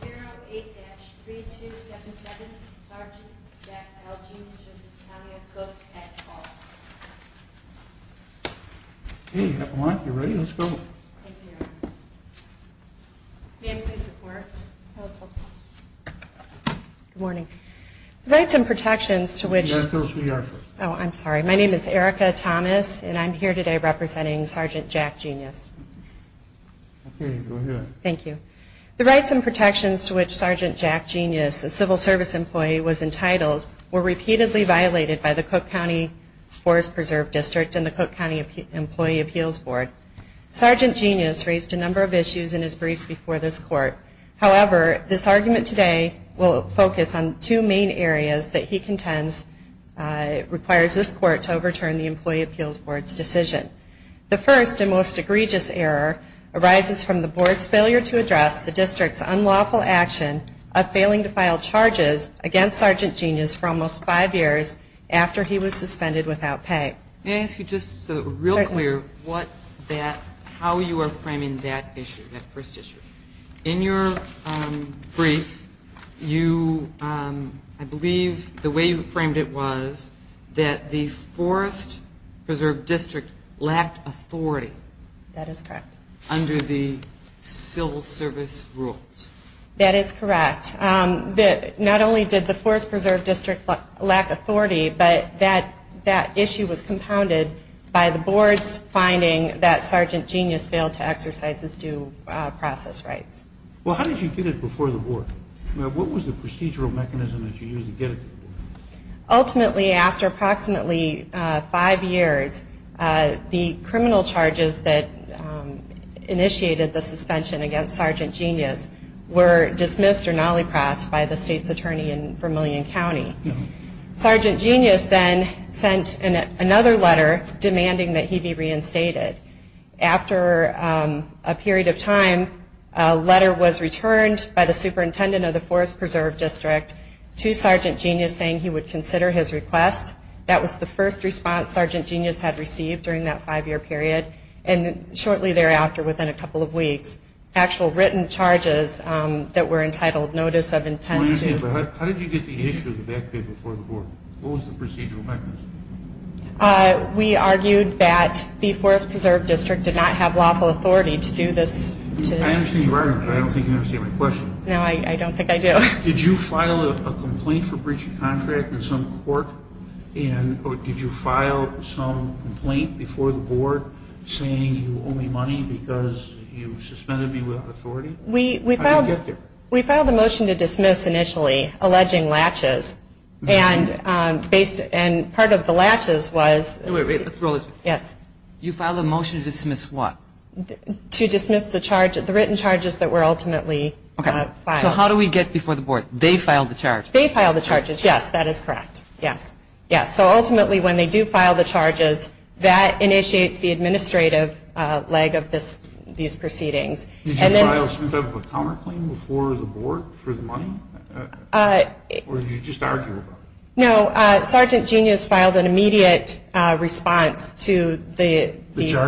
08-3277, Sgt. Jack Algenius v. County of Cook at call. Okay, if you want, you're ready, let's go. Thank you. Ma'am, please report. Good morning. Rights and protections to which... Ask those who you are for. Oh, I'm sorry. My name is Erica Thomas, and I'm here today representing Sgt. Jack Genius. Okay, go ahead. Thank you. The rights and protections to which Sgt. Jack Genius, a civil service employee, was entitled were repeatedly violated by the Cook County Forest Preserve District and the Cook County Employee Appeals Board. Sgt. Genius raised a number of issues in his briefs before this court. However, this argument today will focus on two main areas that he contends requires this court to overturn the Employee Appeals Board's decision. The first and most egregious error arises from the board's failure to address the district's unlawful action of failing to file charges against Sgt. Genius for almost five years after he was suspended without pay. May I ask you just real clear how you are framing that issue, that first issue? In your brief, I believe the way you framed it was that the Forest Preserve District lacked authority. That is correct. Under the civil service rules. That is correct. Not only did the Forest Preserve District lack authority, but that issue was compounded by the board's finding that Sgt. Genius failed to exercise his due process rights. Well, how did you get it before the board? What was the procedural mechanism that you used to get it? Ultimately, after approximately five years, the criminal charges that initiated the suspension against Sgt. Genius were dismissed or nolly-crossed by the state's attorney in Vermillion County. Sgt. Genius then sent another letter demanding that he be reinstated. After a period of time, a letter was returned by the superintendent of the Forest Preserve District to Sgt. Genius saying he would consider his request. That was the first response Sgt. Genius had received during that five-year period, and shortly thereafter, within a couple of weeks, actual written charges that were entitled Notice of Intent to... I don't understand, but how did you get the issue of the back pay before the board? What was the procedural mechanism? We argued that the Forest Preserve District did not have lawful authority to do this... I understand you're arguing, but I don't think you understand my question. No, I don't think I do. Did you file a complaint for breach of contract in some court, and did you file some complaint before the board saying you owe me money because you suspended me without authority? We filed a motion to dismiss initially, alleging latches, and part of the latches was... Wait, wait, let's roll this. Yes. You filed a motion to dismiss what? To dismiss the written charges that were ultimately filed. So how do we get before the board? They file the charges? They file the charges, yes. That is correct, yes. So ultimately, when they do file the charges, that initiates the administrative leg of these proceedings. Did you file some type of a counterclaim before the board for the money? Or did you just argue about it? No, Sergeant Genius filed an immediate response to the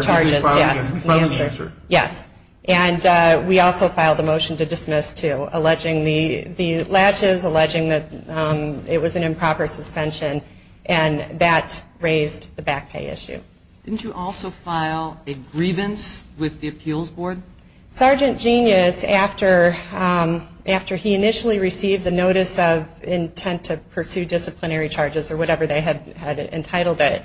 charges, yes. Filed an answer? Yes. And we also filed a motion to dismiss, too, alleging the latches, alleging that it was an improper suspension, and that raised the back pay issue. Didn't you also file a grievance with the appeals board? Sergeant Genius, after he initially received the notice of intent to pursue disciplinary charges or whatever they had entitled it,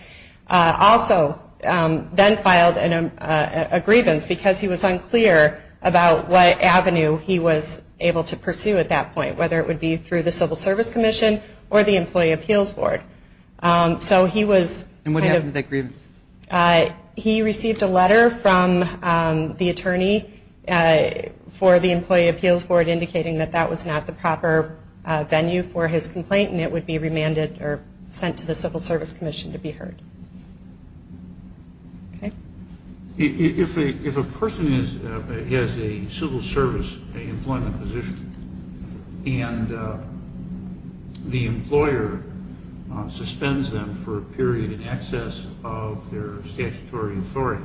also then filed a grievance because he was unclear about what avenue he was able to pursue at that point, whether it would be through the Civil Service Commission or the Employee Appeals Board. And what happened to that grievance? He received a letter from the attorney for the Employee Appeals Board indicating that that was not the proper venue for his complaint, and it would be remanded or sent to the Civil Service Commission to be heard. Okay. If a person has a civil service employment position and the employer suspends them for a period in excess of their statutory authority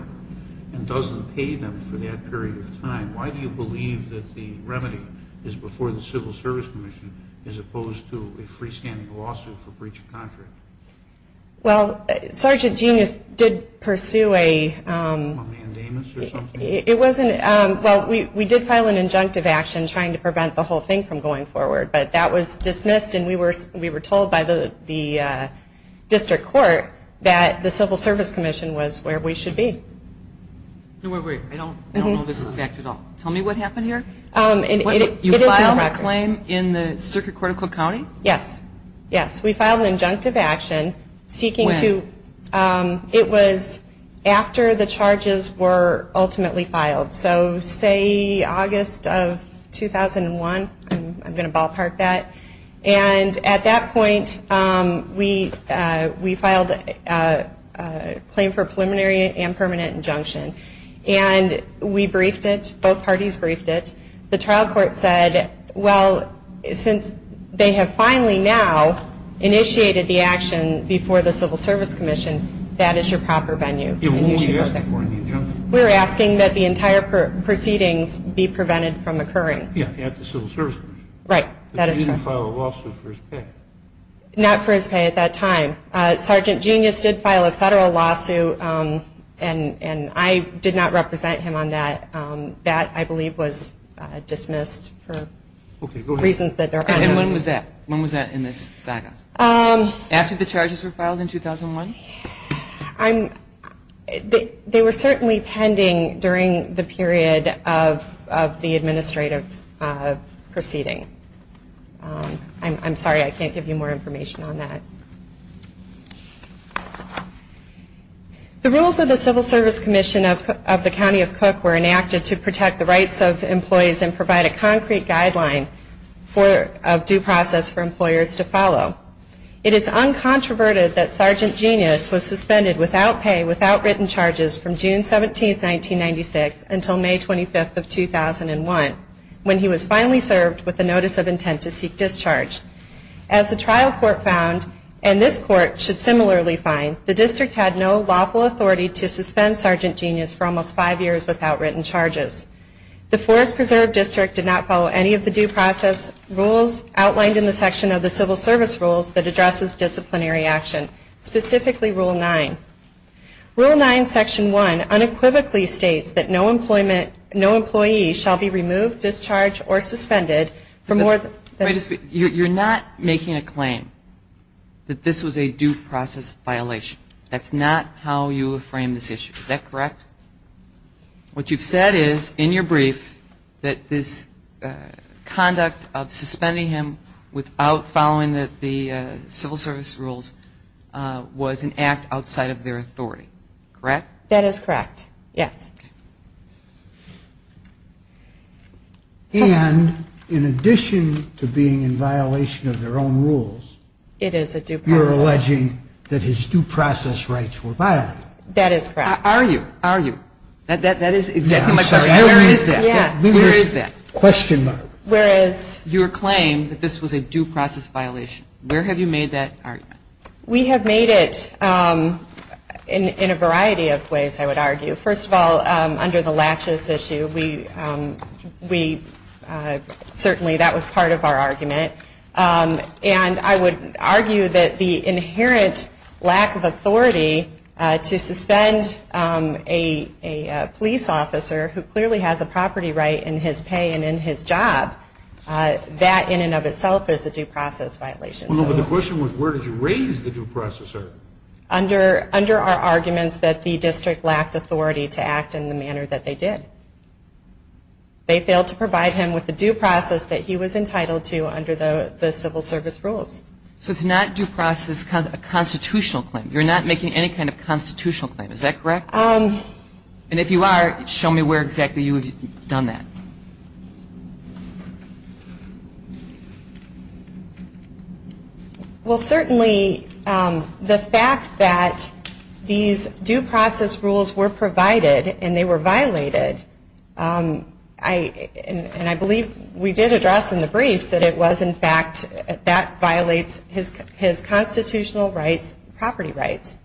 and doesn't pay them for that period of time, why do you believe that the remedy is before the Civil Service Commission as opposed to a freestanding lawsuit for breach of contract? Well, Sergeant Genius did pursue a... A mandamus or something? Well, we did file an injunctive action trying to prevent the whole thing from going forward, but that was dismissed and we were told by the district court that the Civil Service Commission was where we should be. Wait, wait, wait. I don't know this fact at all. Tell me what happened here. You filed a claim in the Circuit Court of Cook County? Yes. Yes, we filed an injunctive action seeking to... When? It was after the charges were ultimately filed. So say August of 2001. I'm going to ballpark that. And at that point we filed a claim for preliminary and permanent injunction. And we briefed it, both parties briefed it. The trial court said, well, since they have finally now initiated the action before the Civil Service Commission, that is your proper venue. Yeah, what were you asking for in the injunction? We were asking that the entire proceedings be prevented from occurring. Yeah, at the Civil Service Commission. Right, that is correct. But you didn't file a lawsuit for his pay. Not for his pay at that time. Sergeant Genius did file a federal lawsuit, and I did not represent him on that. That, I believe, was dismissed for reasons that are unknown. And when was that? When was that in this saga? After the charges were filed in 2001? They were certainly pending during the period of the administrative proceeding. I'm sorry, I can't give you more information on that. The rules of the Civil Service Commission of the County of Cook were enacted to protect the rights of employees and provide a concrete guideline of due process for employers to follow. It is uncontroverted that Sergeant Genius was suspended without pay, without written charges, from June 17, 1996 until May 25, 2001, when he was finally served with a Notice of Intent to Seek Discharge. As the trial court found, and this court should similarly find, the district had no lawful authority to suspend Sergeant Genius for almost five years without written charges. The Forest Preserve District did not follow any of the due process rules outlined in the section of the Civil Service Rules that addresses disciplinary action, specifically Rule 9. Rule 9, Section 1, unequivocally states that no employee shall be removed, discharged, or suspended for more than You're not making a claim that this was a due process violation. That's not how you frame this issue. Is that correct? What you've said is, in your brief, that this conduct of suspending him without following the Civil Service Rules was an act outside of their authority, correct? That is correct, yes. And in addition to being in violation of their own rules, you're alleging that his due process rights were violated. That is correct. Are you? Are you? That is exactly my question. Where is that? Where is that? Question mark. Whereas your claim that this was a due process violation, where have you made that argument? We have made it in a variety of ways, I would argue. First of all, under the latches issue, certainly that was part of our argument. And I would argue that the inherent lack of authority to suspend a police officer who clearly has a property right in his pay and in his job, that in and of itself is a due process violation. The question was where did you raise the due process? Under our arguments that the district lacked authority to act in the manner that they did. They failed to provide him with the due process that he was entitled to under the Civil Service Rules. So it's not due process, a constitutional claim. You're not making any kind of constitutional claim. Is that correct? And if you are, show me where exactly you have done that. Well, certainly the fact that these due process rules were provided and they were violated, and I believe we did address in the briefs that it was in fact that violates his constitutional rights, property rights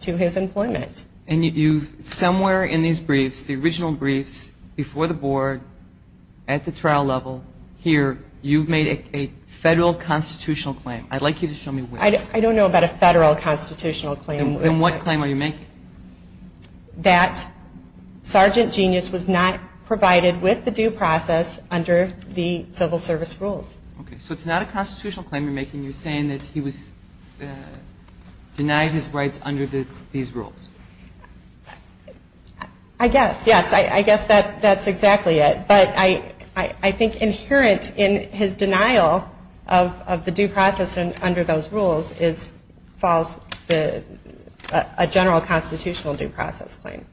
to his employment. And you somewhere in these briefs, the original briefs before the board, at the trial level, here, you've made a federal constitutional claim. I'd like you to show me where. I don't know about a federal constitutional claim. Then what claim are you making? That Sergeant Genius was not provided with the due process under the Civil Service Rules. Okay. So it's not a constitutional claim you're making. You're saying that he was denied his rights under these rules. I guess, yes. I guess that's exactly it. But I think inherent in his denial of the due process under those rules falls a general constitutional due process claim.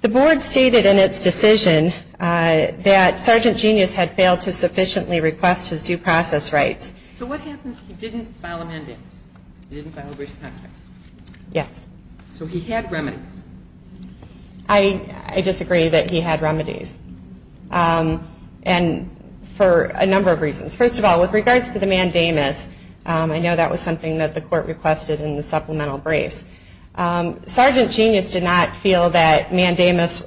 The board stated in its decision that Sergeant Genius had failed to sufficiently request his due process rights. So what happens if he didn't file amendments? He didn't file a brief contract. Yes. So he had remedies. I disagree that he had remedies. And for a number of reasons. First of all, with regards to the mandamus, I know that was something that the court requested in the supplemental briefs. Sergeant Genius did not feel that mandamus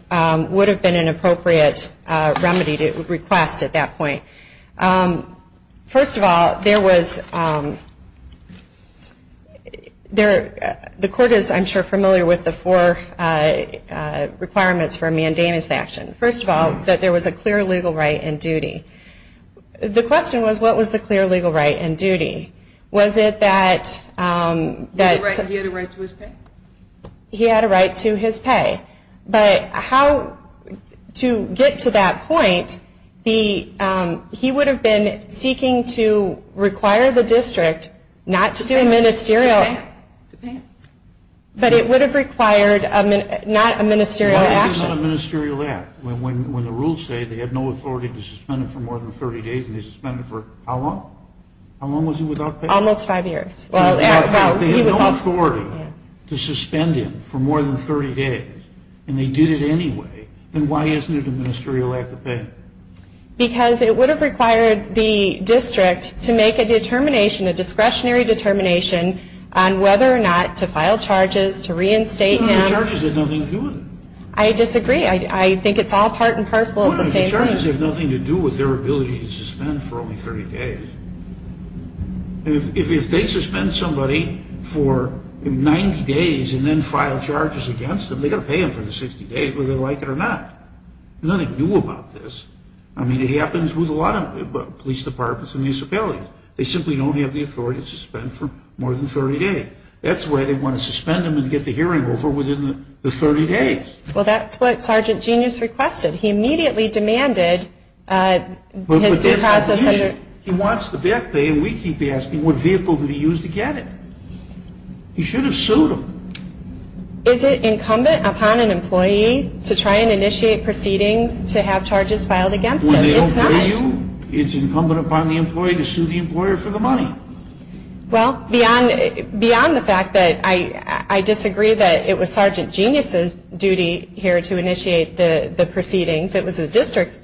would have been an appropriate remedy to request at that point. First of all, the court is, I'm sure, familiar with the four requirements for a mandamus action. First of all, that there was a clear legal right and duty. The question was, what was the clear legal right and duty? Was it that he had a right to his pay? But how to get to that point, he would have been seeking to require the district not to do a ministerial. To pay him? But it would have required not a ministerial action. Why is it not a ministerial act when the rules say they have no authority to suspend him for more than 30 days, and they suspend him for how long? How long was he without pay? Almost five years. If they had no authority to suspend him for more than 30 days, and they did it anyway, then why isn't it a ministerial act to pay him? Because it would have required the district to make a determination, a discretionary determination on whether or not to file charges, to reinstate him. The charges have nothing to do with it. I disagree. I think it's all part and parcel of the same thing. The charges have nothing to do with their ability to suspend for only 30 days. If they suspend somebody for 90 days and then file charges against them, they've got to pay them for the 60 days, whether they like it or not. Nothing new about this. I mean, it happens with a lot of police departments and municipalities. They simply don't have the authority to suspend for more than 30 days. That's why they want to suspend him and get the hearing over within the 30 days. Well, that's what Sergeant Genius requested. He immediately demanded his due process. He wants the back pay, and we keep asking, what vehicle did he use to get it? He should have sued him. Is it incumbent upon an employee to try and initiate proceedings to have charges filed against him? It's not. When they don't pay you, it's incumbent upon the employee to sue the employer for the money. Well, beyond the fact that I disagree that it was Sergeant Genius's duty here to initiate the proceedings. It was the district's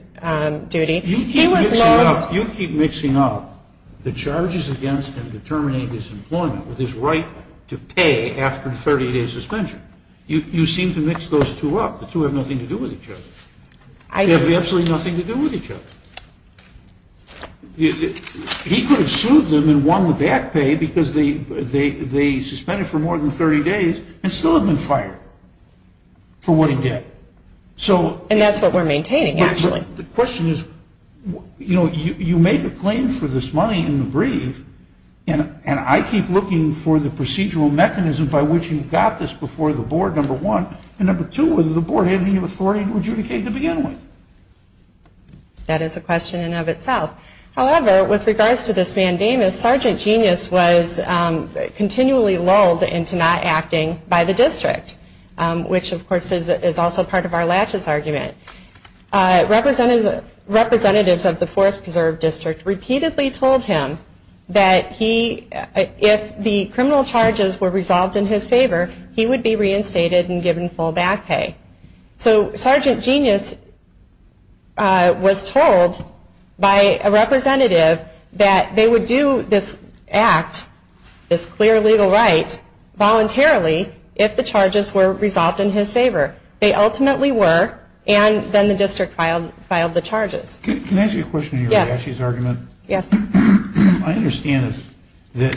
duty. You keep mixing up the charges against him to terminate his employment with his right to pay after the 30-day suspension. You seem to mix those two up. The two have nothing to do with each other. They have absolutely nothing to do with each other. He could have sued them and won the back pay because they suspended for more than 30 days and still have been fired for what he did. And that's what we're maintaining, actually. The question is, you know, you make a claim for this money in the brief, and I keep looking for the procedural mechanism by which you got this before the board, number one. And number two, whether the board had any authority to adjudicate the beginning. That is a question in and of itself. However, with regards to this mandamus, Sergeant Genius was continually lulled into not acting by the district, which, of course, is also part of our latches argument. Representatives of the Forest Preserve District repeatedly told him that if the criminal charges were resolved in his favor, he would be reinstated and given full back pay. So Sergeant Genius was told by a representative that they would do this act, this clear legal right, voluntarily if the charges were resolved in his favor. They ultimately were, and then the district filed the charges. Can I ask you a question on your latches argument? Yes. I understand that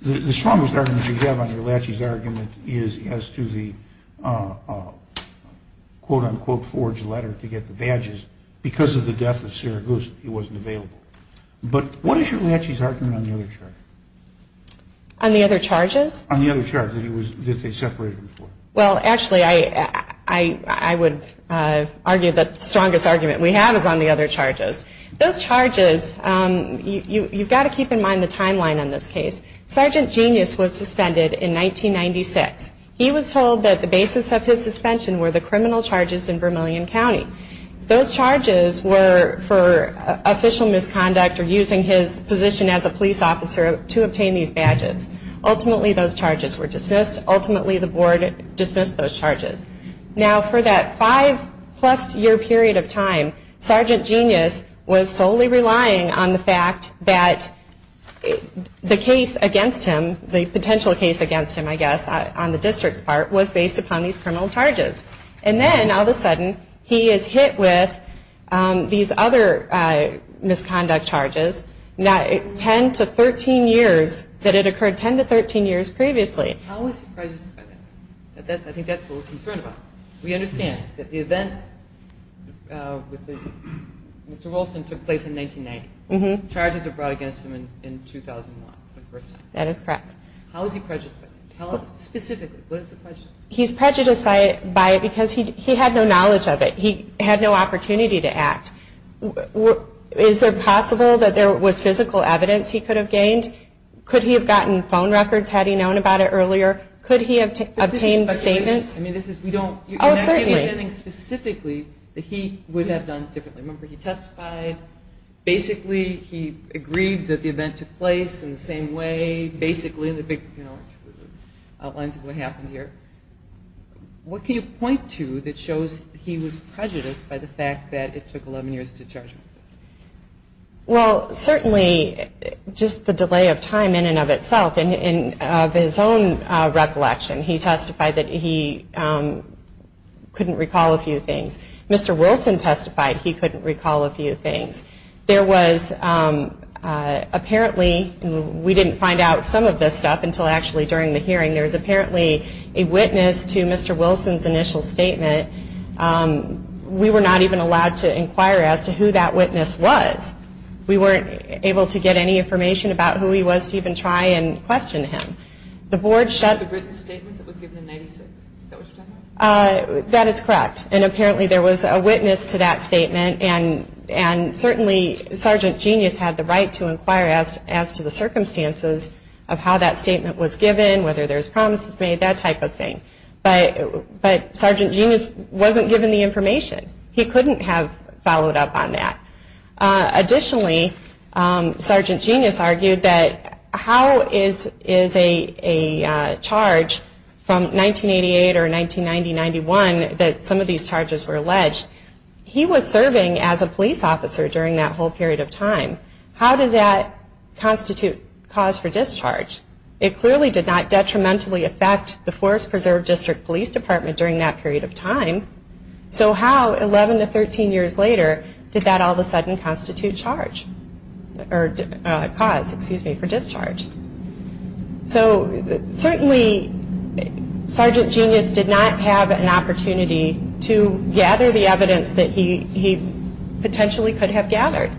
the strongest argument you have on your latches argument is as to the, quote, unquote, forged letter to get the badges. Because of the death of Sarah Goose, it wasn't available. But what is your latches argument on the other charges? On the other charges? On the other charges that they separated them for. Well, actually, I would argue that the strongest argument we have is on the other charges. Those charges, you've got to keep in mind the timeline on this case. Sergeant Genius was suspended in 1996. He was told that the basis of his suspension were the criminal charges in Vermillion County. Those charges were for official misconduct or using his position as a police officer to obtain these badges. Ultimately, those charges were dismissed. Ultimately, the board dismissed those charges. Now, for that five-plus year period of time, Sergeant Genius was solely relying on the fact that the case against him, the potential case against him, I guess, on the district's part, was based upon these criminal charges. And then, all of a sudden, he is hit with these other misconduct charges, 10 to 13 years, that it occurred 10 to 13 years previously. How is he prejudiced by that? I think that's what we're concerned about. We understand that the event with Mr. Wilson took place in 1990. Charges were brought against him in 2001, the first time. That is correct. How is he prejudiced by that? Tell us specifically. What is the prejudice? He's prejudiced by it because he had no knowledge of it. He had no opportunity to act. Is there possible that there was physical evidence he could have gained? Could he have gotten phone records had he known about it earlier? Could he have obtained statements? I mean, this is, we don't. Oh, certainly. You're not representing specifically that he would have done differently. Remember, he testified. Basically, he agreed that the event took place in the same way. Basically, the big, you know, outlines of what happened here. What can you point to that shows he was prejudiced by the fact that it took 11 years to charge him? Well, certainly, just the delay of time in and of itself. In his own recollection, he testified that he couldn't recall a few things. Mr. Wilson testified he couldn't recall a few things. There was apparently, we didn't find out some of this stuff until actually during the hearing, there was apparently a witness to Mr. Wilson's initial statement. We were not even allowed to inquire as to who that witness was. We weren't able to get any information about who he was to even try and question him. The board shut the written statement that was given in 96. Is that what you're talking about? That is correct. And apparently, there was a witness to that statement. And certainly, Sergeant Genius had the right to inquire as to the circumstances of how that statement was given, whether there was promises made, that type of thing. But Sergeant Genius wasn't given the information. He couldn't have followed up on that. Additionally, Sergeant Genius argued that how is a charge from 1988 or 1990-91 that some of these charges were alleged? He was serving as a police officer during that whole period of time. How did that constitute cause for discharge? It clearly did not detrimentally affect the Forest Preserve District Police Department during that period of time. So how, 11 to 13 years later, did that all of a sudden constitute cause for discharge? So certainly, Sergeant Genius did not have an opportunity to gather the evidence that he potentially could have gathered.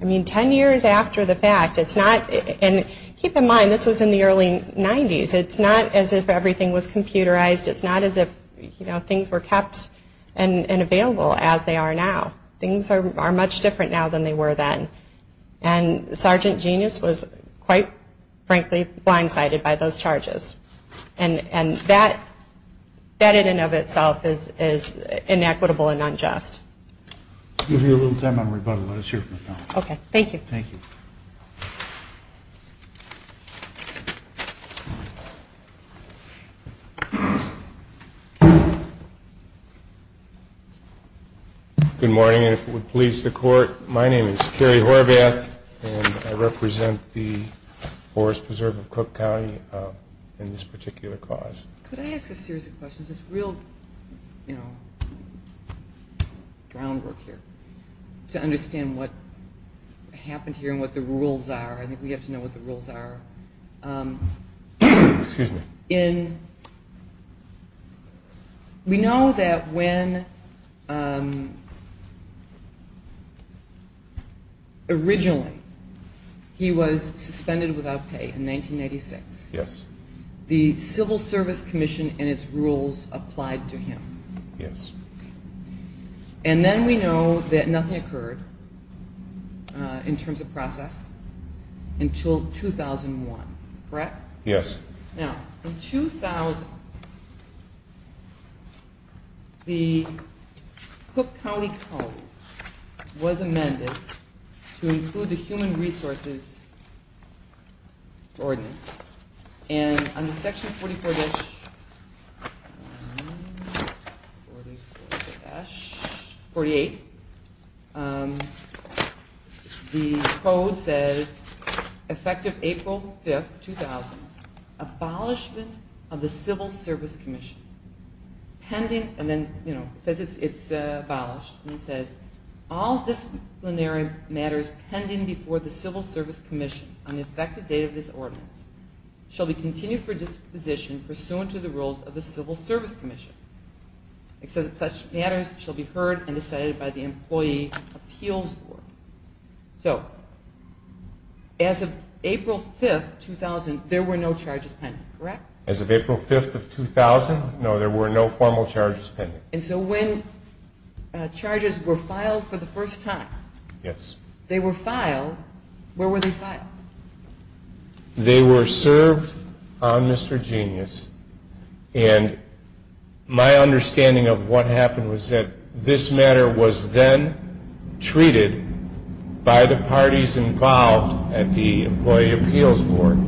I mean, 10 years after the fact. And keep in mind, this was in the early 90s. It's not as if everything was computerized. It's not as if things were kept and available as they are now. Things are much different now than they were then. And Sergeant Genius was, quite frankly, blindsided by those charges. And that in and of itself is inequitable and unjust. I'll give you a little time on rebuttal. Let us hear from the panel. Okay. Thank you. Thank you. Good morning. And if it would please the Court, my name is Kerry Horvath, and I represent the Forest Preserve of Cook County in this particular cause. Could I ask a series of questions? It's real groundwork here to understand what happened here and what the rules are. I think we have to know what the rules are. Excuse me. We know that when originally he was suspended without pay in 1996, Yes. the Service Commission and its rules applied to him. Yes. And then we know that nothing occurred in terms of process until 2001, correct? Yes. Now, in 2000, the Cook County Code was amended to include the Human Resources Ordinance. And under section 44-1, 44-48, the code says, effective April 5, 2000, abolishment of the Civil Service Commission pending, and then it says it's abolished, and it says, all disciplinary matters pending before the Civil Service Commission on the effective date of this ordinance shall be continued for disposition pursuant to the rules of the Civil Service Commission, except that such matters shall be heard and decided by the employee appeals board. So as of April 5, 2000, there were no charges pending, correct? As of April 5, 2000, no, there were no formal charges pending. And so when charges were filed for the first time, Yes. they were filed, where were they filed? They were served on Mr. Genius, and my understanding of what happened was that this matter was then treated by the parties involved at the employee appeals board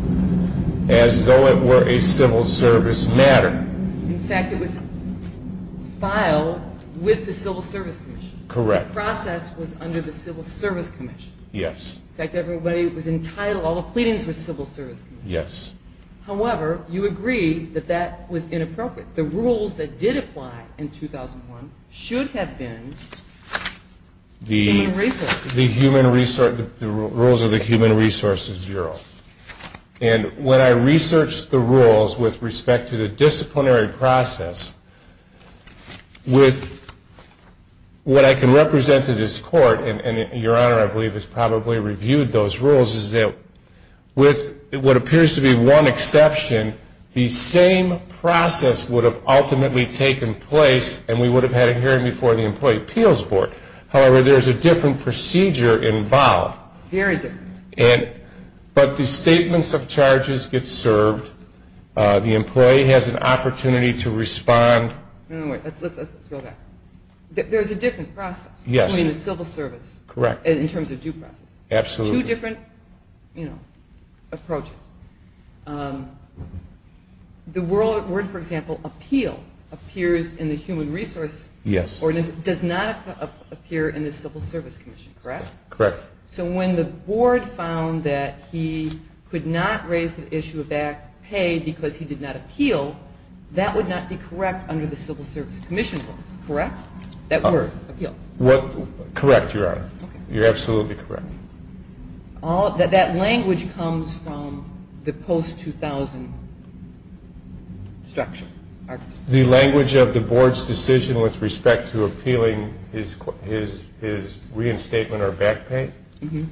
as though it were a civil service matter. In fact, it was filed with the Civil Service Commission. Correct. And the process was under the Civil Service Commission. Yes. In fact, everybody was entitled, all the pleadings were Civil Service Commission. Yes. However, you agree that that was inappropriate. The rules that did apply in 2001 should have been human resources. The rules of the Human Resources Bureau. And when I researched the rules with respect to the disciplinary process, with what I can represent to this court, and Your Honor, I believe, has probably reviewed those rules, is that with what appears to be one exception, the same process would have ultimately taken place and we would have had a hearing before the employee appeals board. However, there is a different procedure involved. Very different. But the statements of charges get served. The employee has an opportunity to respond. No, wait. Let's go back. There's a different process. Yes. I mean, the civil service. Correct. In terms of due process. Absolutely. Two different, you know, approaches. The word, for example, appeal, appears in the human resource ordinance. Yes. It does not appear in the Civil Service Commission, correct? Correct. So when the board found that he could not raise the issue of back pay because he did not appeal, that would not be correct under the Civil Service Commission rules, correct? That word, appeal. Correct, Your Honor. You're absolutely correct. That language comes from the post-2000 structure. The language of the board's decision with respect to appealing his reinstatement or back pay? Mm-hmm.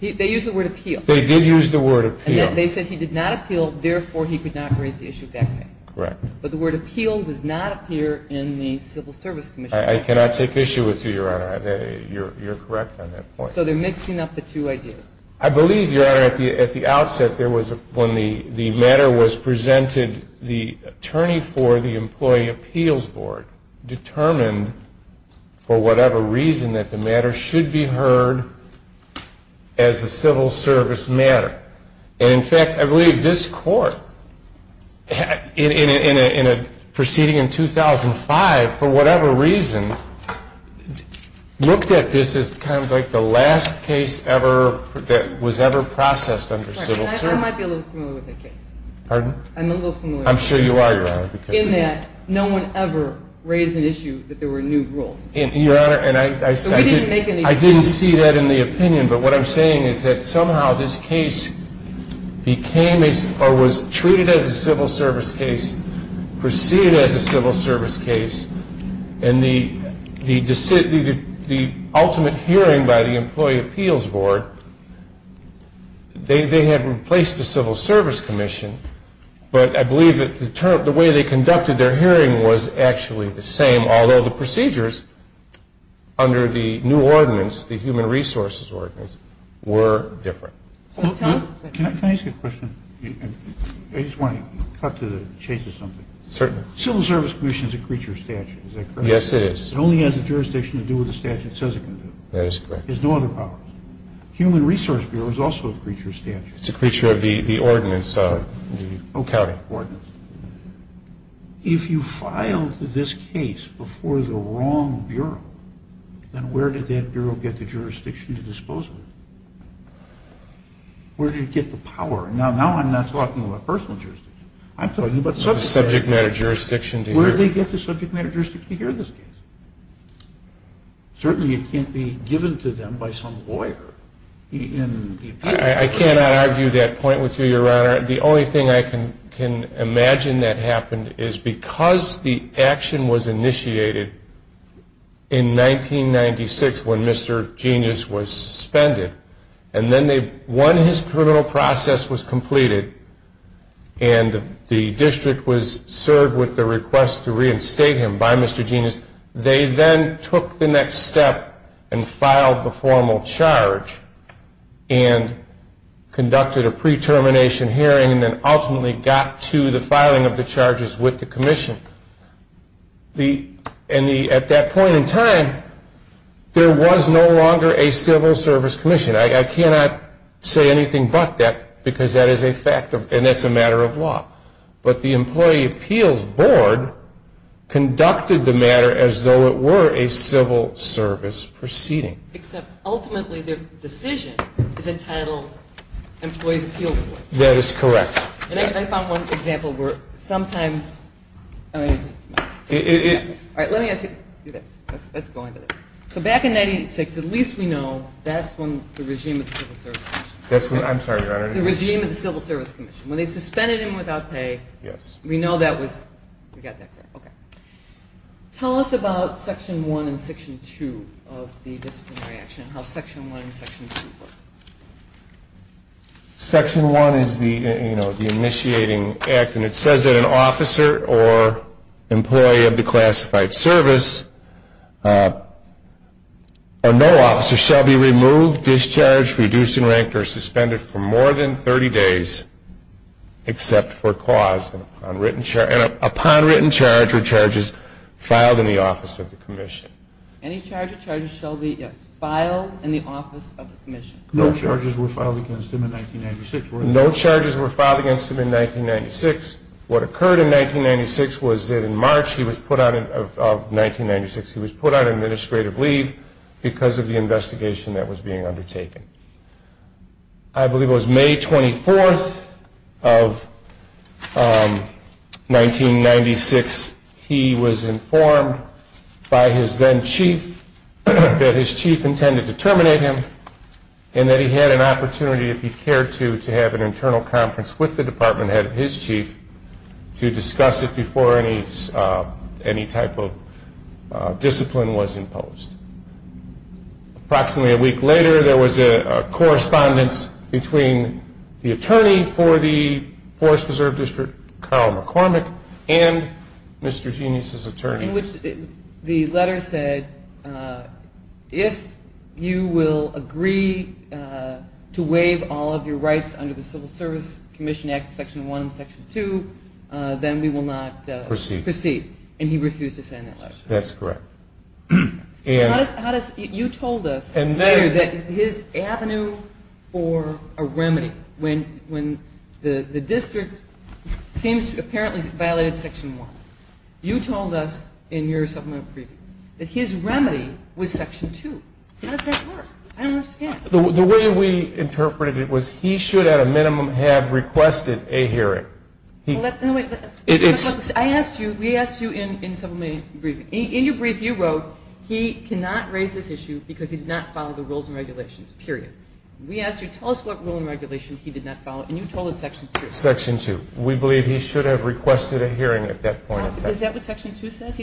They used the word appeal. They did use the word appeal. And they said he did not appeal, therefore he could not raise the issue of back pay. Correct. But the word appeal does not appear in the Civil Service Commission. I cannot take issue with you, Your Honor. You're correct on that point. So they're mixing up the two ideas. I believe, Your Honor, at the outset, when the matter was presented, the attorney for the Employee Appeals Board determined, for whatever reason, that the matter should be heard as a civil service matter. And, in fact, I believe this court, proceeding in 2005, for whatever reason, looked at this as kind of like the last case ever that was ever processed under civil service. I might be a little familiar with that case. Pardon? I'm a little familiar with that case. I'm sure you are, Your Honor. In that no one ever raised an issue that there were new rules. Your Honor, I didn't see that in the opinion. But what I'm saying is that somehow this case became or was treated as a civil service case, proceeded as a civil service case, and the ultimate hearing by the Employee Appeals Board, they had replaced the Civil Service Commission. But I believe the way they conducted their hearing was actually the same, although the procedures under the new ordinance, the Human Resources Ordinance, were different. Can I ask you a question? I just want to cut to the chase of something. Certainly. Civil Service Commission is a creature of statute. Is that correct? Yes, it is. It only has a jurisdiction to do what the statute says it can do. It has no other powers. Human Resource Bureau is also a creature of statute. It's a creature of the ordinance of the county. If you filed this case before the wrong bureau, then where did that bureau get the jurisdiction to dispose of it? Where did it get the power? Now I'm not talking about personal jurisdiction. I'm talking about subject matter jurisdiction. Where did they get the subject matter jurisdiction to hear this case? Certainly it can't be given to them by some lawyer. I cannot argue that point with you, Your Honor. The only thing I can imagine that happened is because the action was initiated in 1996 when Mr. Genius was suspended. And then when his criminal process was completed and the district was served with the request to reinstate him by Mr. Genius, they then took the next step and filed the formal charge and conducted a pre-termination hearing and then ultimately got to the filing of the charges with the commission. At that point in time, there was no longer a civil service commission. I cannot say anything but that because that is a matter of law. But the Employee Appeals Board conducted the matter as though it were a civil service proceeding. Except ultimately their decision is entitled Employees Appeal Board. That is correct. And I found one example where sometimes, I mean, it's just a mess. All right, let me ask you this. Let's go into this. So back in 1986, at least we know that's when the regime of the civil service commission. I'm sorry, Your Honor. The regime of the civil service commission. When they suspended him without pay. Yes. We know that was. We got that correct. Okay. Tell us about Section 1 and Section 2 of the disciplinary action and how Section 1 and Section 2 work. Section 1 is the initiating act, and it says that an officer or employee of the classified service or no officer shall be removed, discharged, reduced in rank, or suspended for more than 30 days except for cause, and upon written charge or charges filed in the office of the commission. Any charge or charges shall be, yes, filed in the office of the commission. No charges were filed against him in 1996. No charges were filed against him in 1996. What occurred in 1996 was that in March of 1996 he was put on administrative leave because of the investigation that was being undertaken. I believe it was May 24th of 1996 he was informed by his then chief that his chief intended to terminate him and that he had an opportunity if he cared to, to have an internal conference with the department head of his chief to discuss it before any type of discipline was imposed. Approximately a week later there was a correspondence between the attorney for the Forest Preserve District, Carl McCormick, and Mr. Genius's attorney. In which the letter said, if you will agree to waive all of your rights under the Civil Service Commission Act, Section 1 and Section 2, then we will not proceed. And he refused to sign that letter. That's correct. You told us later that his avenue for a remedy, when the district seems to have apparently violated Section 1, you told us in your supplemental preview that his remedy was Section 2. How does that work? I don't understand. The way we interpreted it was he should at a minimum have requested a hearing. I asked you, we asked you in your brief, you wrote he cannot raise this issue because he did not follow the rules and regulations, period. We asked you, tell us what rule and regulation he did not follow, and you told us Section 2. Section 2. We believe he should have requested a hearing at that point. Is that what Section 2 says?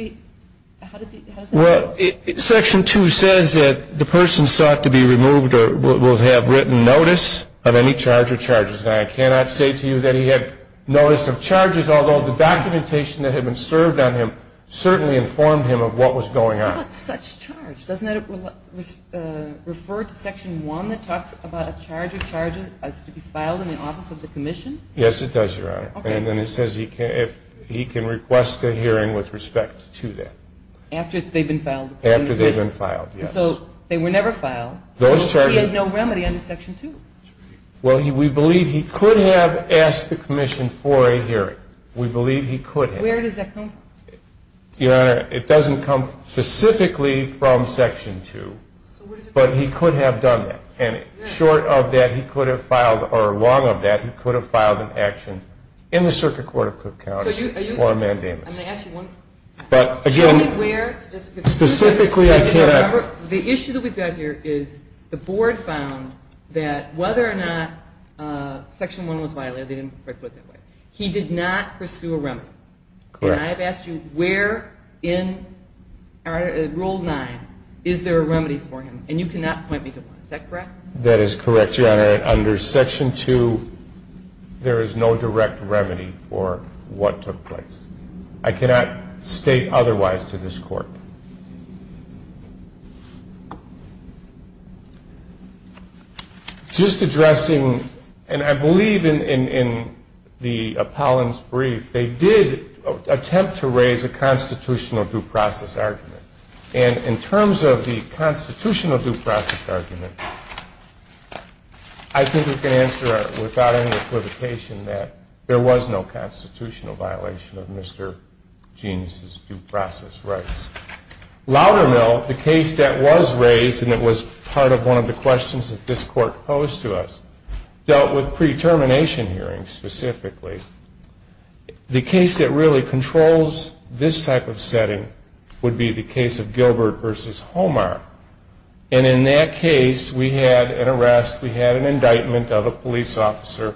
Well, Section 2 says that the person sought to be removed will have written notice of any charge or charges. And I cannot say to you that he had notice of charges, although the documentation that had been served on him certainly informed him of what was going on. How about such charge? Doesn't that refer to Section 1 that talks about a charge or charges as to be filed in the office of the commission? Yes, it does, Your Honor. And then it says he can request a hearing with respect. Yes, to that. After they've been filed. After they've been filed, yes. And so they were never filed. Those charges. So he had no remedy under Section 2. Well, we believe he could have asked the commission for a hearing. We believe he could have. Where does that come from? Your Honor, it doesn't come specifically from Section 2, but he could have done that. And short of that, he could have filed, or long of that, he could have filed an action in the Circuit Court of Cook County for a mandamus. I'm going to ask you one. But, again, specifically I can't. The issue that we've got here is the Board found that whether or not Section 1 was violated, they didn't put it that way, he did not pursue a remedy. Correct. And I have asked you where in Rule 9 is there a remedy for him? And you cannot point me to one. Is that correct? That is correct, Your Honor. Under Section 2, there is no direct remedy for what took place. I cannot state otherwise to this Court. Just addressing, and I believe in the Apollon's brief, they did attempt to raise a constitutional due process argument. And in terms of the constitutional due process argument, I think we can answer without any equivocation that there was no constitutional violation of Mr. Genes' due process rights. Loudermill, the case that was raised, and it was part of one of the questions that this Court posed to us, dealt with pre-termination hearings specifically. The case that really controls this type of setting would be the case of Gilbert v. Homar. And in that case, we had an arrest, we had an indictment of a police officer,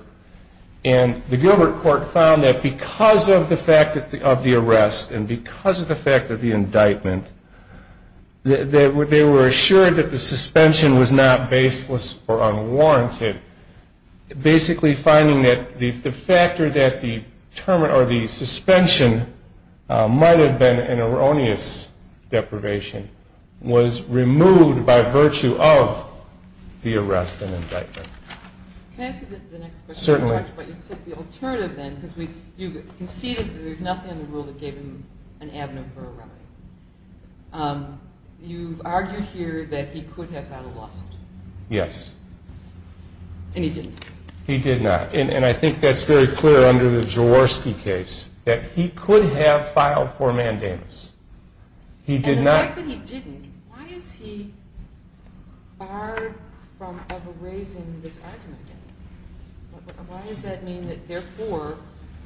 and the Gilbert court found that because of the fact of the arrest and because of the fact of the indictment, they were assured that the suspension was not baseless or unwarranted, basically finding that the factor that the suspension might have been an erroneous deprivation was removed by virtue of the arrest and indictment. Can I ask you the next question? Certainly. You said the alternative, then, since you conceded that there's nothing in the rule that gave him an avenue for a remedy. You've argued here that he could have filed a lawsuit. Yes. And he didn't. He did not. And I think that's very clear under the Jaworski case, that he could have filed for mandamus. And the fact that he didn't, why is he barred from ever raising this argument again? Why does that mean that, therefore,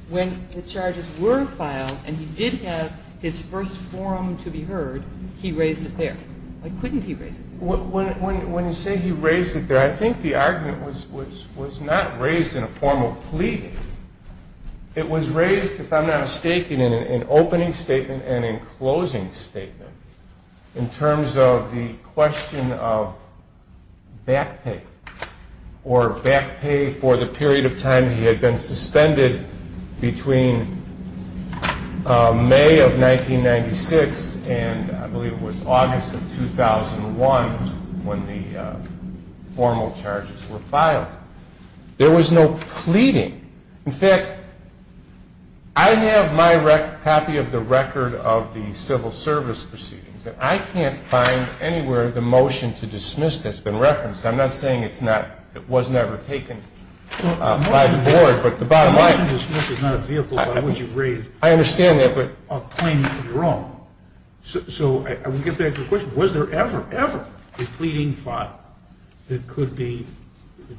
when the charges were filed and he did have his first forum to be heard, he raised it there? Why couldn't he raise it there? When you say he raised it there, I think the argument was not raised in a formal plea. It was raised, if I'm not mistaken, in an opening statement and in a closing statement in terms of the question of back pay, or back pay for the period of time he had been suspended between May of 1996 and I believe it was August of 2001 when the formal charges were filed. There was no pleading. In fact, I have my copy of the record of the civil service proceedings, and I can't find anywhere the motion to dismiss that's been referenced. The motion to dismiss is not a vehicle by which you raise a claim of your own. So I would get back to the question, was there ever, ever a pleading file that could be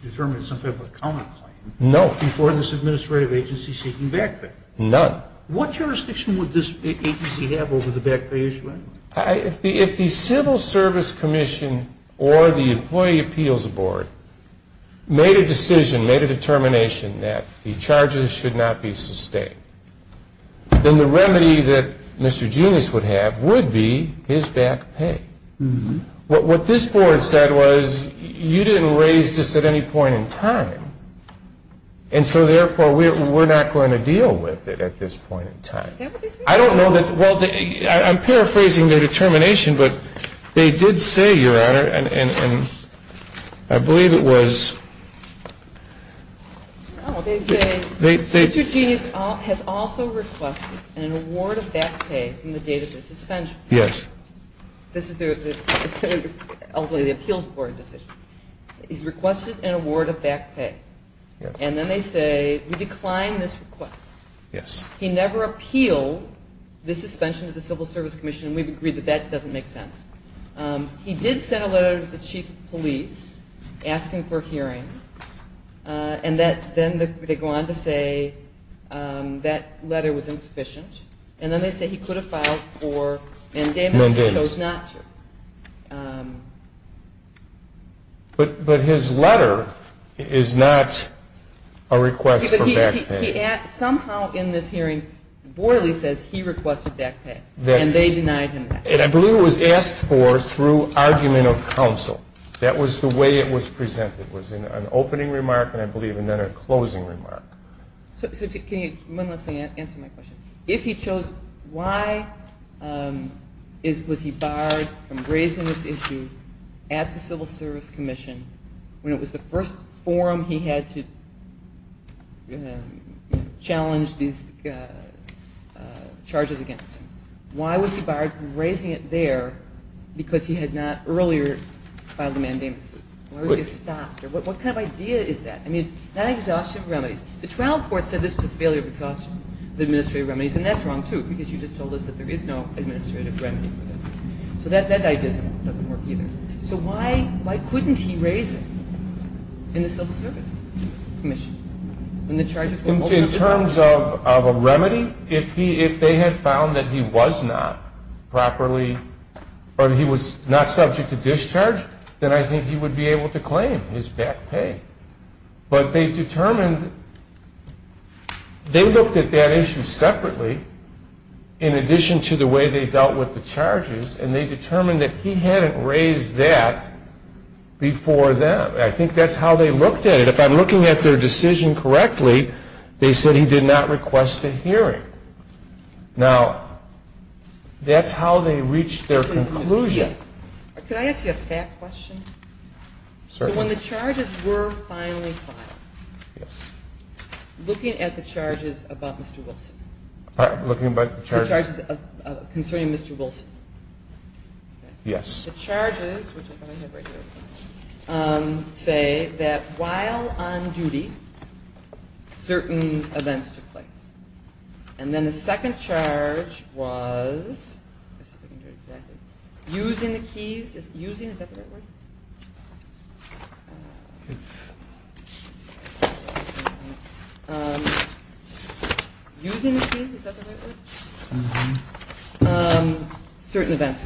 determined as some type of a counterclaim before this administrative agency seeking back pay? None. What jurisdiction would this agency have over the back pay issue anyway? If the civil service commission or the employee appeals board made a decision, made a determination that the charges should not be sustained, then the remedy that Mr. Genis would have would be his back pay. What this board said was you didn't raise this at any point in time, and so therefore we're not going to deal with it at this point in time. Is that what they said? I don't know. Well, I'm paraphrasing their determination, but they did say, Your Honor, Mr. Genis has also requested an award of back pay from the date of his suspension. Yes. This is ultimately the appeals board decision. He's requested an award of back pay, and then they say we decline this request. Yes. He never appealed the suspension of the civil service commission, and we've agreed that that doesn't make sense. He did send a letter to the chief of police asking for a hearing, and then they go on to say that letter was insufficient, and then they say he could have filed for mandamus and chose not to. But his letter is not a request for back pay. Somehow in this hearing, Boyle says he requested back pay, and they denied him that. I believe it was asked for through argument of counsel. That was the way it was presented. It was an opening remark, and I believe another closing remark. So can you one last thing answer my question? If he chose, why was he barred from raising this issue at the civil service commission when it was the first forum he had to challenge these charges against him? Why was he barred from raising it there because he had not earlier filed a mandamus? Why was he stopped? What kind of idea is that? I mean, it's not an exhaustion of remedies. The trial court said this was a failure of exhaustion of administrative remedies, and that's wrong too because you just told us that there is no administrative remedy for this. So that idea doesn't work either. So why couldn't he raise it in the civil service commission when the charges were multiple? In terms of a remedy, if they had found that he was not properly or he was not subject to discharge, then I think he would be able to claim his back pay. But they determined they looked at that issue separately in addition to the way they dealt with the charges, and they determined that he hadn't raised that before them. I think that's how they looked at it. And if I'm looking at their decision correctly, they said he did not request a hearing. Now, that's how they reached their conclusion. Could I ask you a fact question? Certainly. So when the charges were finally filed, looking at the charges about Mr. Wilson. Looking at the charges? The charges concerning Mr. Wilson. Yes. The charges, which I have right here, say that while on duty, certain events took place. And then the second charge was using the keys. Using, is that the right word? Using the keys, is that the right word? Certain events,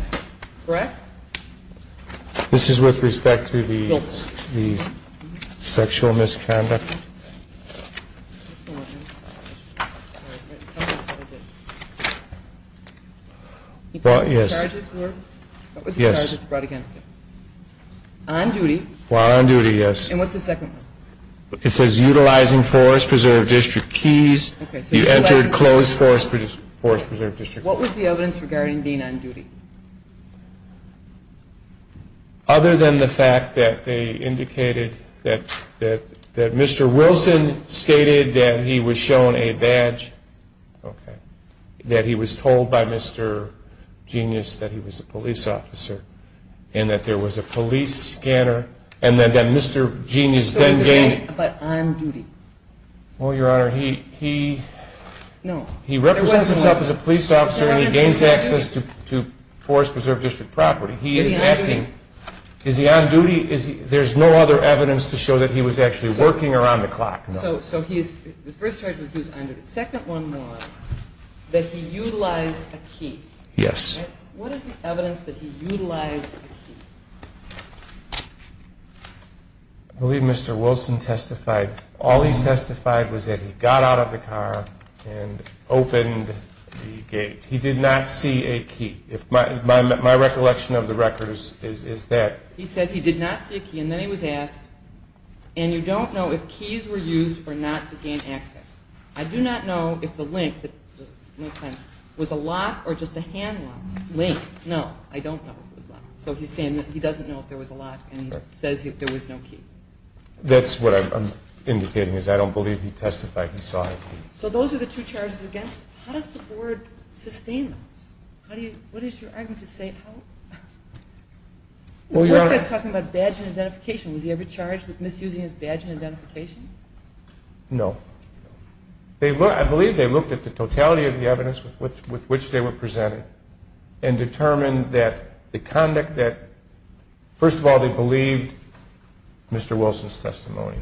correct? This is with respect to the sexual misconduct? Yes. What were the charges brought against him? On duty. While on duty, yes. And what's the second one? It says utilizing Forest Preserve District keys. He entered closed Forest Preserve District keys. What was the evidence regarding being on duty? Other than the fact that they indicated that Mr. Wilson stated that he was shown a badge. That he was told by Mr. Genius that he was a police officer. And that there was a police scanner. And that Mr. Genius then gained. But on duty. Well, Your Honor, he represents himself as a police officer. And he gains access to Forest Preserve District property. He is acting. Is he on duty? There's no other evidence to show that he was actually working around the clock. So the first charge was that he was on duty. The second one was that he utilized a key. Yes. What is the evidence that he utilized a key? I believe Mr. Wilson testified. All he testified was that he got out of the car and opened the gate. He did not see a key. My recollection of the record is that. He said he did not see a key. And then he was asked. And you don't know if keys were used or not to gain access. I do not know if the link, no offense, was a lock or just a hand lock. Link, no. I don't know if it was a lock. So he's saying that he doesn't know if there was a lock. And he says there was no key. That's what I'm indicating is I don't believe he testified he saw a key. So those are the two charges against him. How does the board sustain those? What is your argument to say? The board says talking about badge and identification. Was he ever charged with misusing his badge and identification? No. I believe they looked at the totality of the evidence with which they were presented and determined that the conduct that, first of all, they believed Mr. Wilson's testimony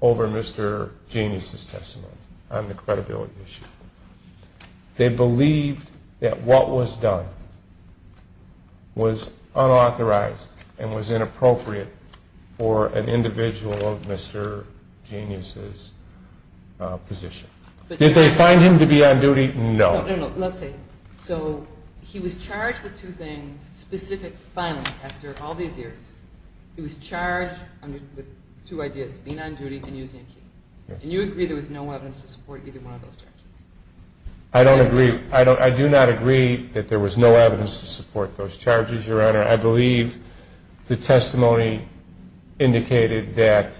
over Mr. Genius' testimony on the credibility issue. They believed that what was done was unauthorized and was inappropriate for an individual of Mr. Genius' position. Did they find him to be on duty? No. No, no, no. Let's see. So he was charged with two things, specific violence after all these years. He was charged with two ideas, being on duty and using a key. And you agree there was no evidence to support either one of those charges? I don't agree. I do not agree that there was no evidence to support those charges, Your Honor. I believe the testimony indicated that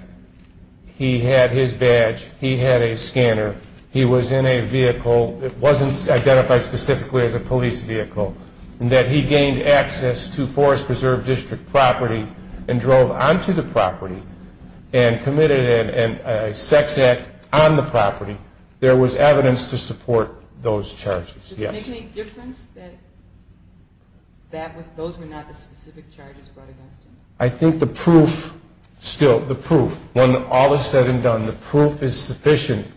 he had his badge, he had a scanner, he was in a vehicle that wasn't identified specifically as a police vehicle, and that he gained access to Forest Preserve District property and drove onto the property and committed a sex act on the property. There was evidence to support those charges, yes. Does it make any difference that those were not the specific charges brought against him? I think the proof still, the proof, when all is said and done, the proof is sufficient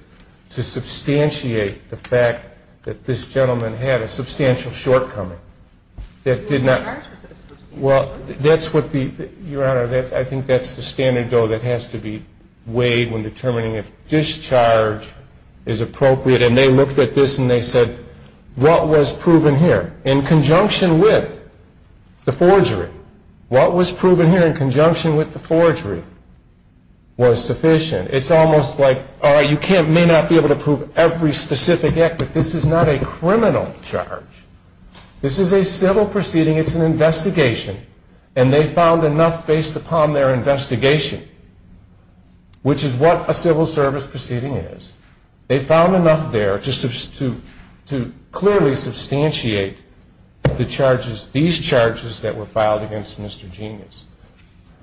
to substantiate the fact that this gentleman had a substantial shortcoming. He was charged with a substantial shortcoming. Well, that's what the, Your Honor, I think that's the standard, though, that has to be weighed when determining if discharge is appropriate. And they looked at this and they said, what was proven here? In conjunction with the forgery, what was proven here in conjunction with the forgery was sufficient. It's almost like, you may not be able to prove every specific act, but this is not a criminal charge. This is a civil proceeding, it's an investigation, and they found enough based upon their investigation, which is what a civil service proceeding is. They found enough there to clearly substantiate the charges, these charges that were filed against Mr. Genius.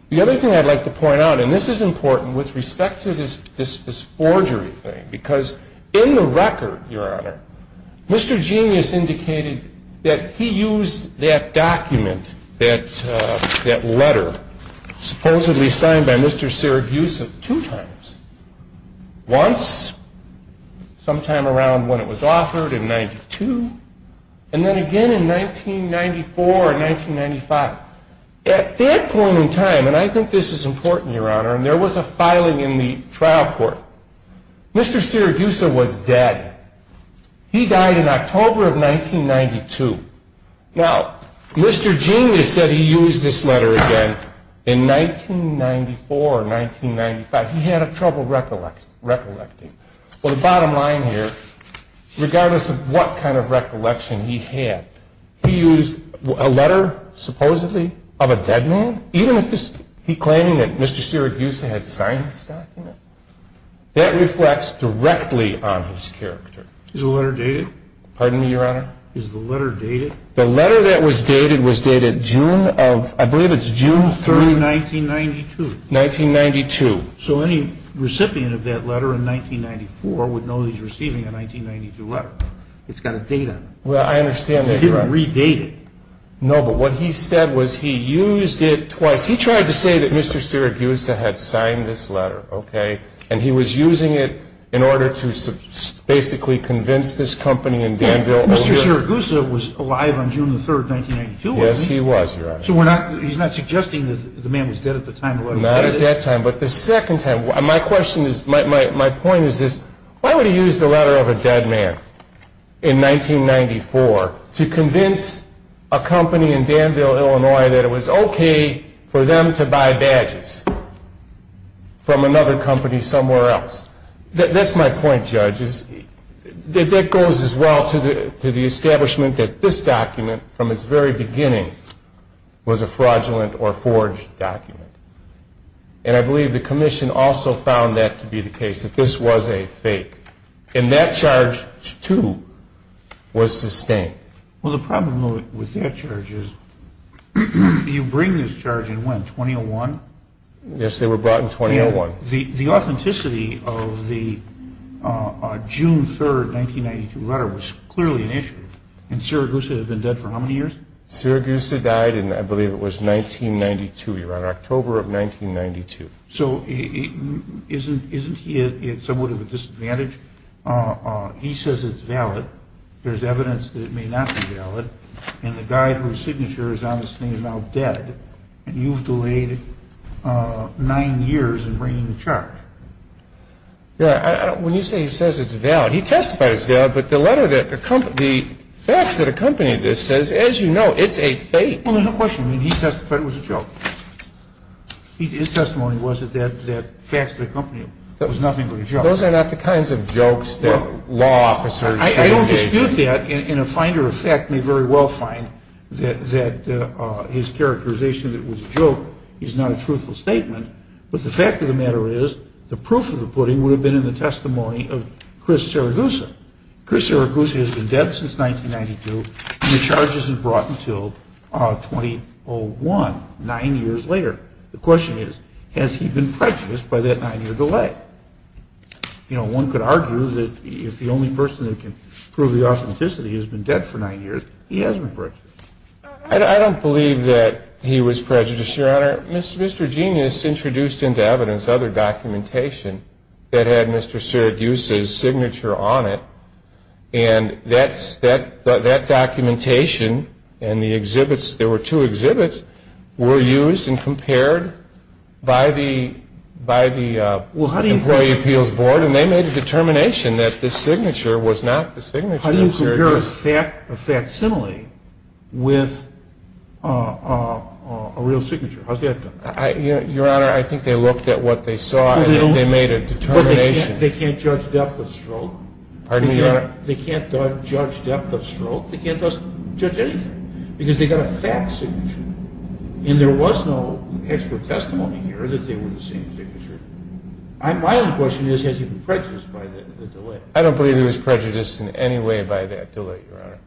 The other thing I'd like to point out, and this is important with respect to this forgery thing, because in the record, Your Honor, Mr. Genius indicated that he used that document, that letter, supposedly signed by Mr. Sirigusa two times. Once, sometime around when it was authored in 92, and then again in 1994 or 1995. At that point in time, and I think this is important, Your Honor, and there was a filing in the trial court, Mr. Sirigusa was dead. He died in October of 1992. Now, Mr. Genius said he used this letter again in 1994 or 1995. He had trouble recollecting. Well, the bottom line here, regardless of what kind of recollection he had, he used a letter, supposedly, of a dead man? Even if he's claiming that Mr. Sirigusa had signed this document? That reflects directly on his character. Is the letter dated? Pardon me, Your Honor? Is the letter dated? The letter that was dated was dated June of, I believe it's June 3, 1992. 1992. So any recipient of that letter in 1994 would know he's receiving a 1992 letter. It's got a date on it. Well, I understand that, Your Honor. It didn't redate it. No, but what he said was he used it twice. He tried to say that Mr. Sirigusa had signed this letter, okay, and he was using it in order to basically convince this company in Danville Mr. Sirigusa was alive on June 3, 1992, wasn't he? Yes, he was, Your Honor. So he's not suggesting that the man was dead at the time the letter was dated? Not at that time, but the second time. My point is this. Why would he use the letter of a dead man in 1994 to convince a company in Danville, Illinois, that it was okay for them to buy badges from another company somewhere else? That's my point, Judge. That goes as well to the establishment that this document, from its very beginning, was a fraudulent or forged document. And I believe the commission also found that to be the case, that this was a fake. And that charge, too, was sustained. Well, the problem with that charge is you bring this charge in when, 2001? Yes, they were brought in 2001. The authenticity of the June 3, 1992 letter was clearly an issue. And Sirigusa had been dead for how many years? Sirigusa died in, I believe it was 1992, Your Honor, October of 1992. So isn't he at somewhat of a disadvantage? He says it's valid. There's evidence that it may not be valid. And the guy whose signature is on this thing is now dead. And you've delayed nine years in bringing the charge. When you say he says it's valid, he testifies it's valid, but the facts that accompany this says, as you know, it's a fake. Well, there's a question. He testified it was a joke. His testimony was that the facts that accompany it was nothing but a joke. And a finder of fact may very well find that his characterization that it was a joke is not a truthful statement. But the fact of the matter is the proof of the pudding would have been in the testimony of Chris Sirigusa. Chris Sirigusa has been dead since 1992, and the charge isn't brought until 2001, nine years later. The question is, has he been prejudiced by that nine-year delay? You know, one could argue that if the only person that can prove the authenticity has been dead for nine years, he has been prejudiced. I don't believe that he was prejudiced, Your Honor. Mr. Genius introduced into evidence other documentation that had Mr. Sirigusa's signature on it, and that documentation and the exhibits, there were two exhibits, were used and compared by the Employee Appeals Board, and they made a determination that this signature was not the signature of Sirigusa. How do you compare a facsimile with a real signature? How's that done? Your Honor, I think they looked at what they saw, and they made a determination. But they can't judge depth of stroke. They can't judge depth of stroke. They can't judge anything, because they got a fact signature, and there was no actual testimony here that they were the same signature. My only question is, has he been prejudiced by the delay? I don't believe he was prejudiced in any way by that delay, Your Honor.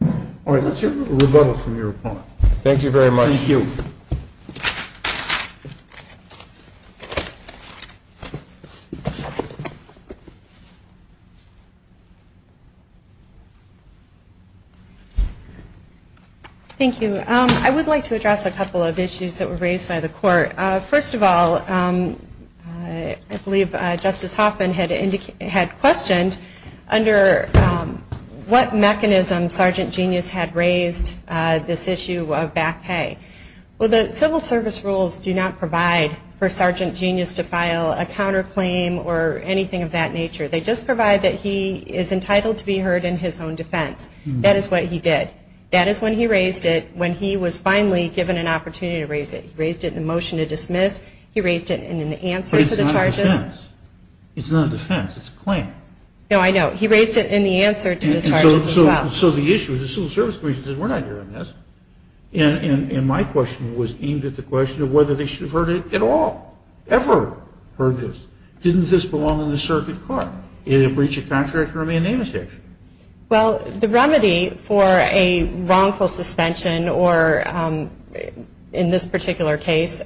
All right, let's hear a little rebuttal from your opponent. Thank you very much. Thank you. Thank you. I would like to address a couple of issues that were raised by the Court. First of all, I believe Justice Hoffman had questioned under what mechanism Sergeant Genius had raised this issue of back pay. Well, the Civil Service rules do not provide for Sergeant Genius to file a counterclaim or anything of that nature. They just provide that he is entitled to be heard in his own defense. That is what he did. That is when he raised it, when he was finally given an opportunity to raise it. He raised it in a motion to dismiss. He raised it in an answer to the charges. But it's not a defense. It's not a defense. It's a claim. No, I know. He raised it in the answer to the charges as well. So the issue is the Civil Service Commission says we're not hearing this. And my question was aimed at the question of whether they should have heard it at all, ever heard this. Didn't this belong in the circuit court? Did it breach a contract or remain in the section? Well, the remedy for a wrongful suspension or, in this particular case,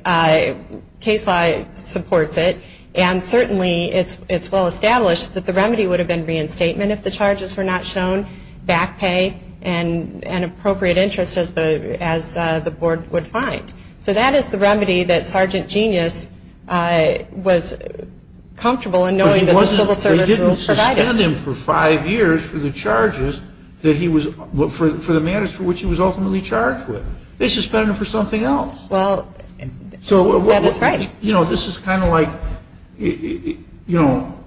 case law supports it. And certainly it's well established that the remedy would have been reinstatement if the charges were not shown, back pay, and appropriate interest as the board would find. So that is the remedy that Sergeant Genius was comfortable in knowing that the Civil Service rules provided. They suspended him for five years for the charges that he was, for the matters for which he was ultimately charged with. They suspended him for something else. Well, that is right. You know, this is kind of like, you know,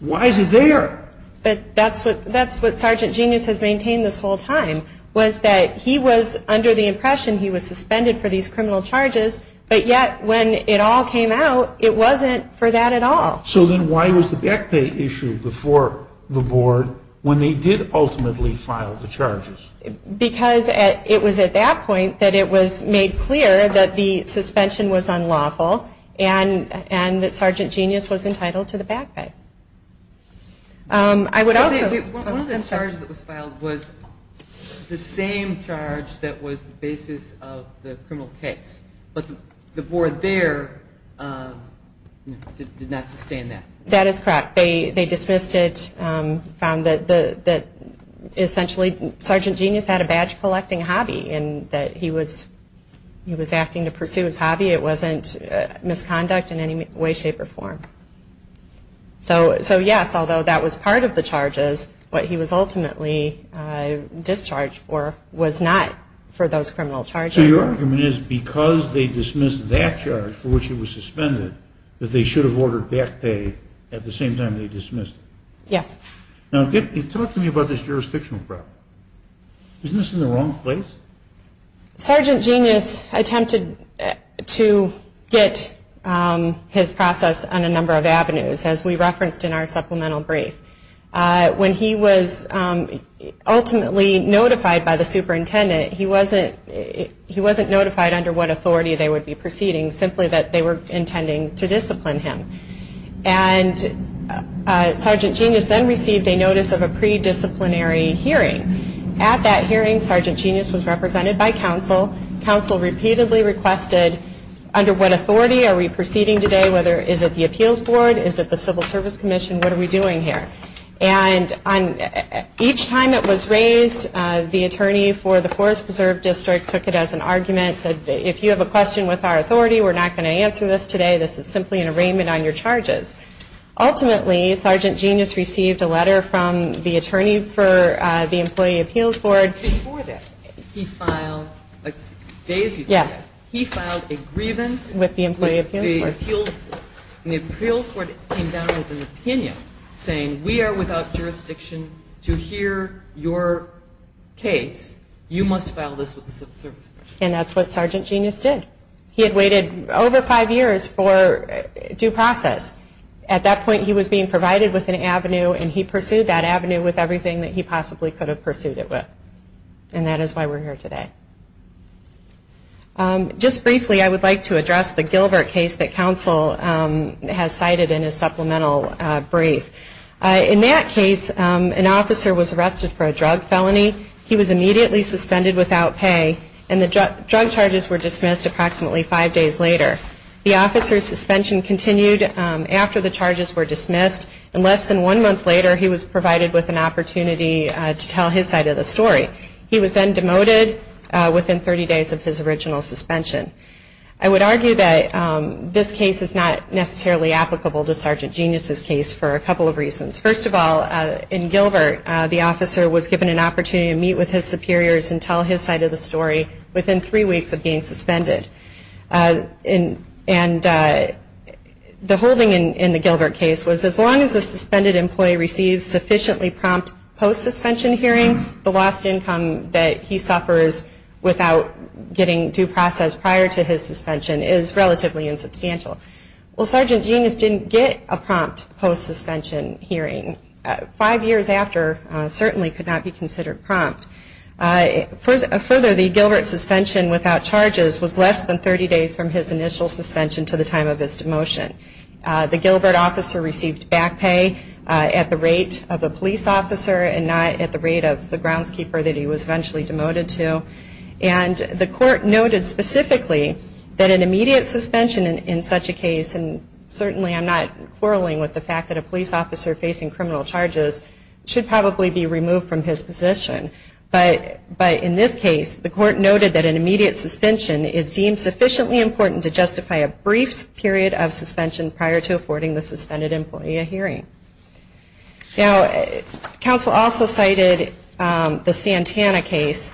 why is it there? That's what Sergeant Genius has maintained this whole time, was that he was under the impression he was suspended for these criminal charges, but yet when it all came out, it wasn't for that at all. So then why was the back pay issue before the board when they did ultimately file the charges? Because it was at that point that it was made clear that the suspension was unlawful and that Sergeant Genius was entitled to the back pay. One of the charges that was filed was the same charge that was the basis of the criminal case, but the board there did not sustain that. That is correct. They dismissed it, found that essentially Sergeant Genius had a badge collecting hobby and that he was acting to pursue his hobby. It wasn't misconduct in any way, shape, or form. So yes, although that was part of the charges, what he was ultimately discharged for was not for those criminal charges. So your argument is because they dismissed that charge for which he was suspended, that they should have ordered back pay at the same time they dismissed him? Yes. Now talk to me about this jurisdictional problem. Isn't this in the wrong place? Sergeant Genius attempted to get his process on a number of avenues, as we referenced in our supplemental brief. When he was ultimately notified by the superintendent, he wasn't notified under what authority they would be proceeding, simply that they were intending to discipline him. And Sergeant Genius then received a notice of a pre-disciplinary hearing. At that hearing, Sergeant Genius was represented by counsel. Counsel repeatedly requested, under what authority are we proceeding today, whether is it the Appeals Board, is it the Civil Service Commission, what are we doing here? And each time it was raised, the attorney for the Forest Preserve District took it as an argument, said if you have a question with our authority, we're not going to answer this today, this is simply an arraignment on your charges. Ultimately, Sergeant Genius received a letter from the attorney for the Employee Appeals Board. Days before that, he filed a grievance with the Employee Appeals Board. And the Appeals Board came down with an opinion, saying we are without jurisdiction to hear your case, you must file this with the Civil Service Commission. And that's what Sergeant Genius did. He had waited over five years for due process. And he pursued that avenue with everything that he possibly could have pursued it with. And that is why we're here today. Just briefly, I would like to address the Gilbert case that counsel has cited in his supplemental brief. In that case, an officer was arrested for a drug felony. He was immediately suspended without pay, and the drug charges were dismissed approximately five days later. The officer's suspension continued after the charges were dismissed, and less than one month later he was provided with an opportunity to tell his side of the story. He was then demoted within 30 days of his original suspension. I would argue that this case is not necessarily applicable to Sergeant Genius's case for a couple of reasons. First of all, in Gilbert, the officer was given an opportunity to meet with his superiors and tell his side of the story within three weeks of being suspended. And the holding in the Gilbert case was as long as a suspended employee receives sufficiently prompt post-suspension hearing, the lost income that he suffers without getting due process prior to his suspension is relatively insubstantial. Well, Sergeant Genius didn't get a prompt post-suspension hearing. Five years after certainly could not be considered prompt. Further, the Gilbert suspension without charges was less than 30 days from his initial suspension to the time of his demotion. The Gilbert officer received back pay at the rate of a police officer and not at the rate of the groundskeeper that he was eventually demoted to. And the court noted specifically that an immediate suspension in such a case, and certainly I'm not quarreling with the fact that a police officer facing criminal charges, should probably be removed from his position. But in this case, the court noted that an immediate suspension is deemed sufficiently important to justify a brief period of suspension prior to affording the suspended employee a hearing. Now, counsel also cited the Santana case,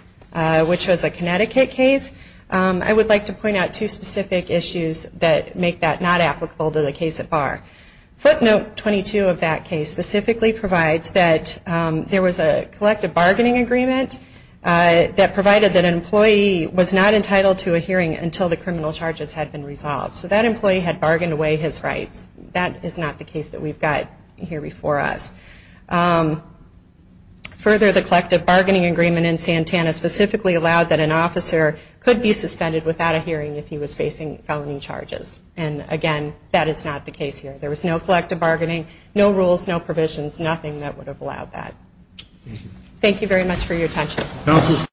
which was a Connecticut case. I would like to point out two specific issues that make that not applicable to the case at bar. Footnote 22 of that case specifically provides that there was a collective bargaining agreement that provided that an employee was not entitled to a hearing until the criminal charges had been resolved. So that employee had bargained away his rights. That is not the case that we've got here before us. Further, the collective bargaining agreement in Santana specifically allowed that an officer could be suspended without a hearing if he was facing felony charges. And again, that is not the case here. There was no collective bargaining, no rules, no provisions, nothing that would have allowed that. Thank you very much for your attention.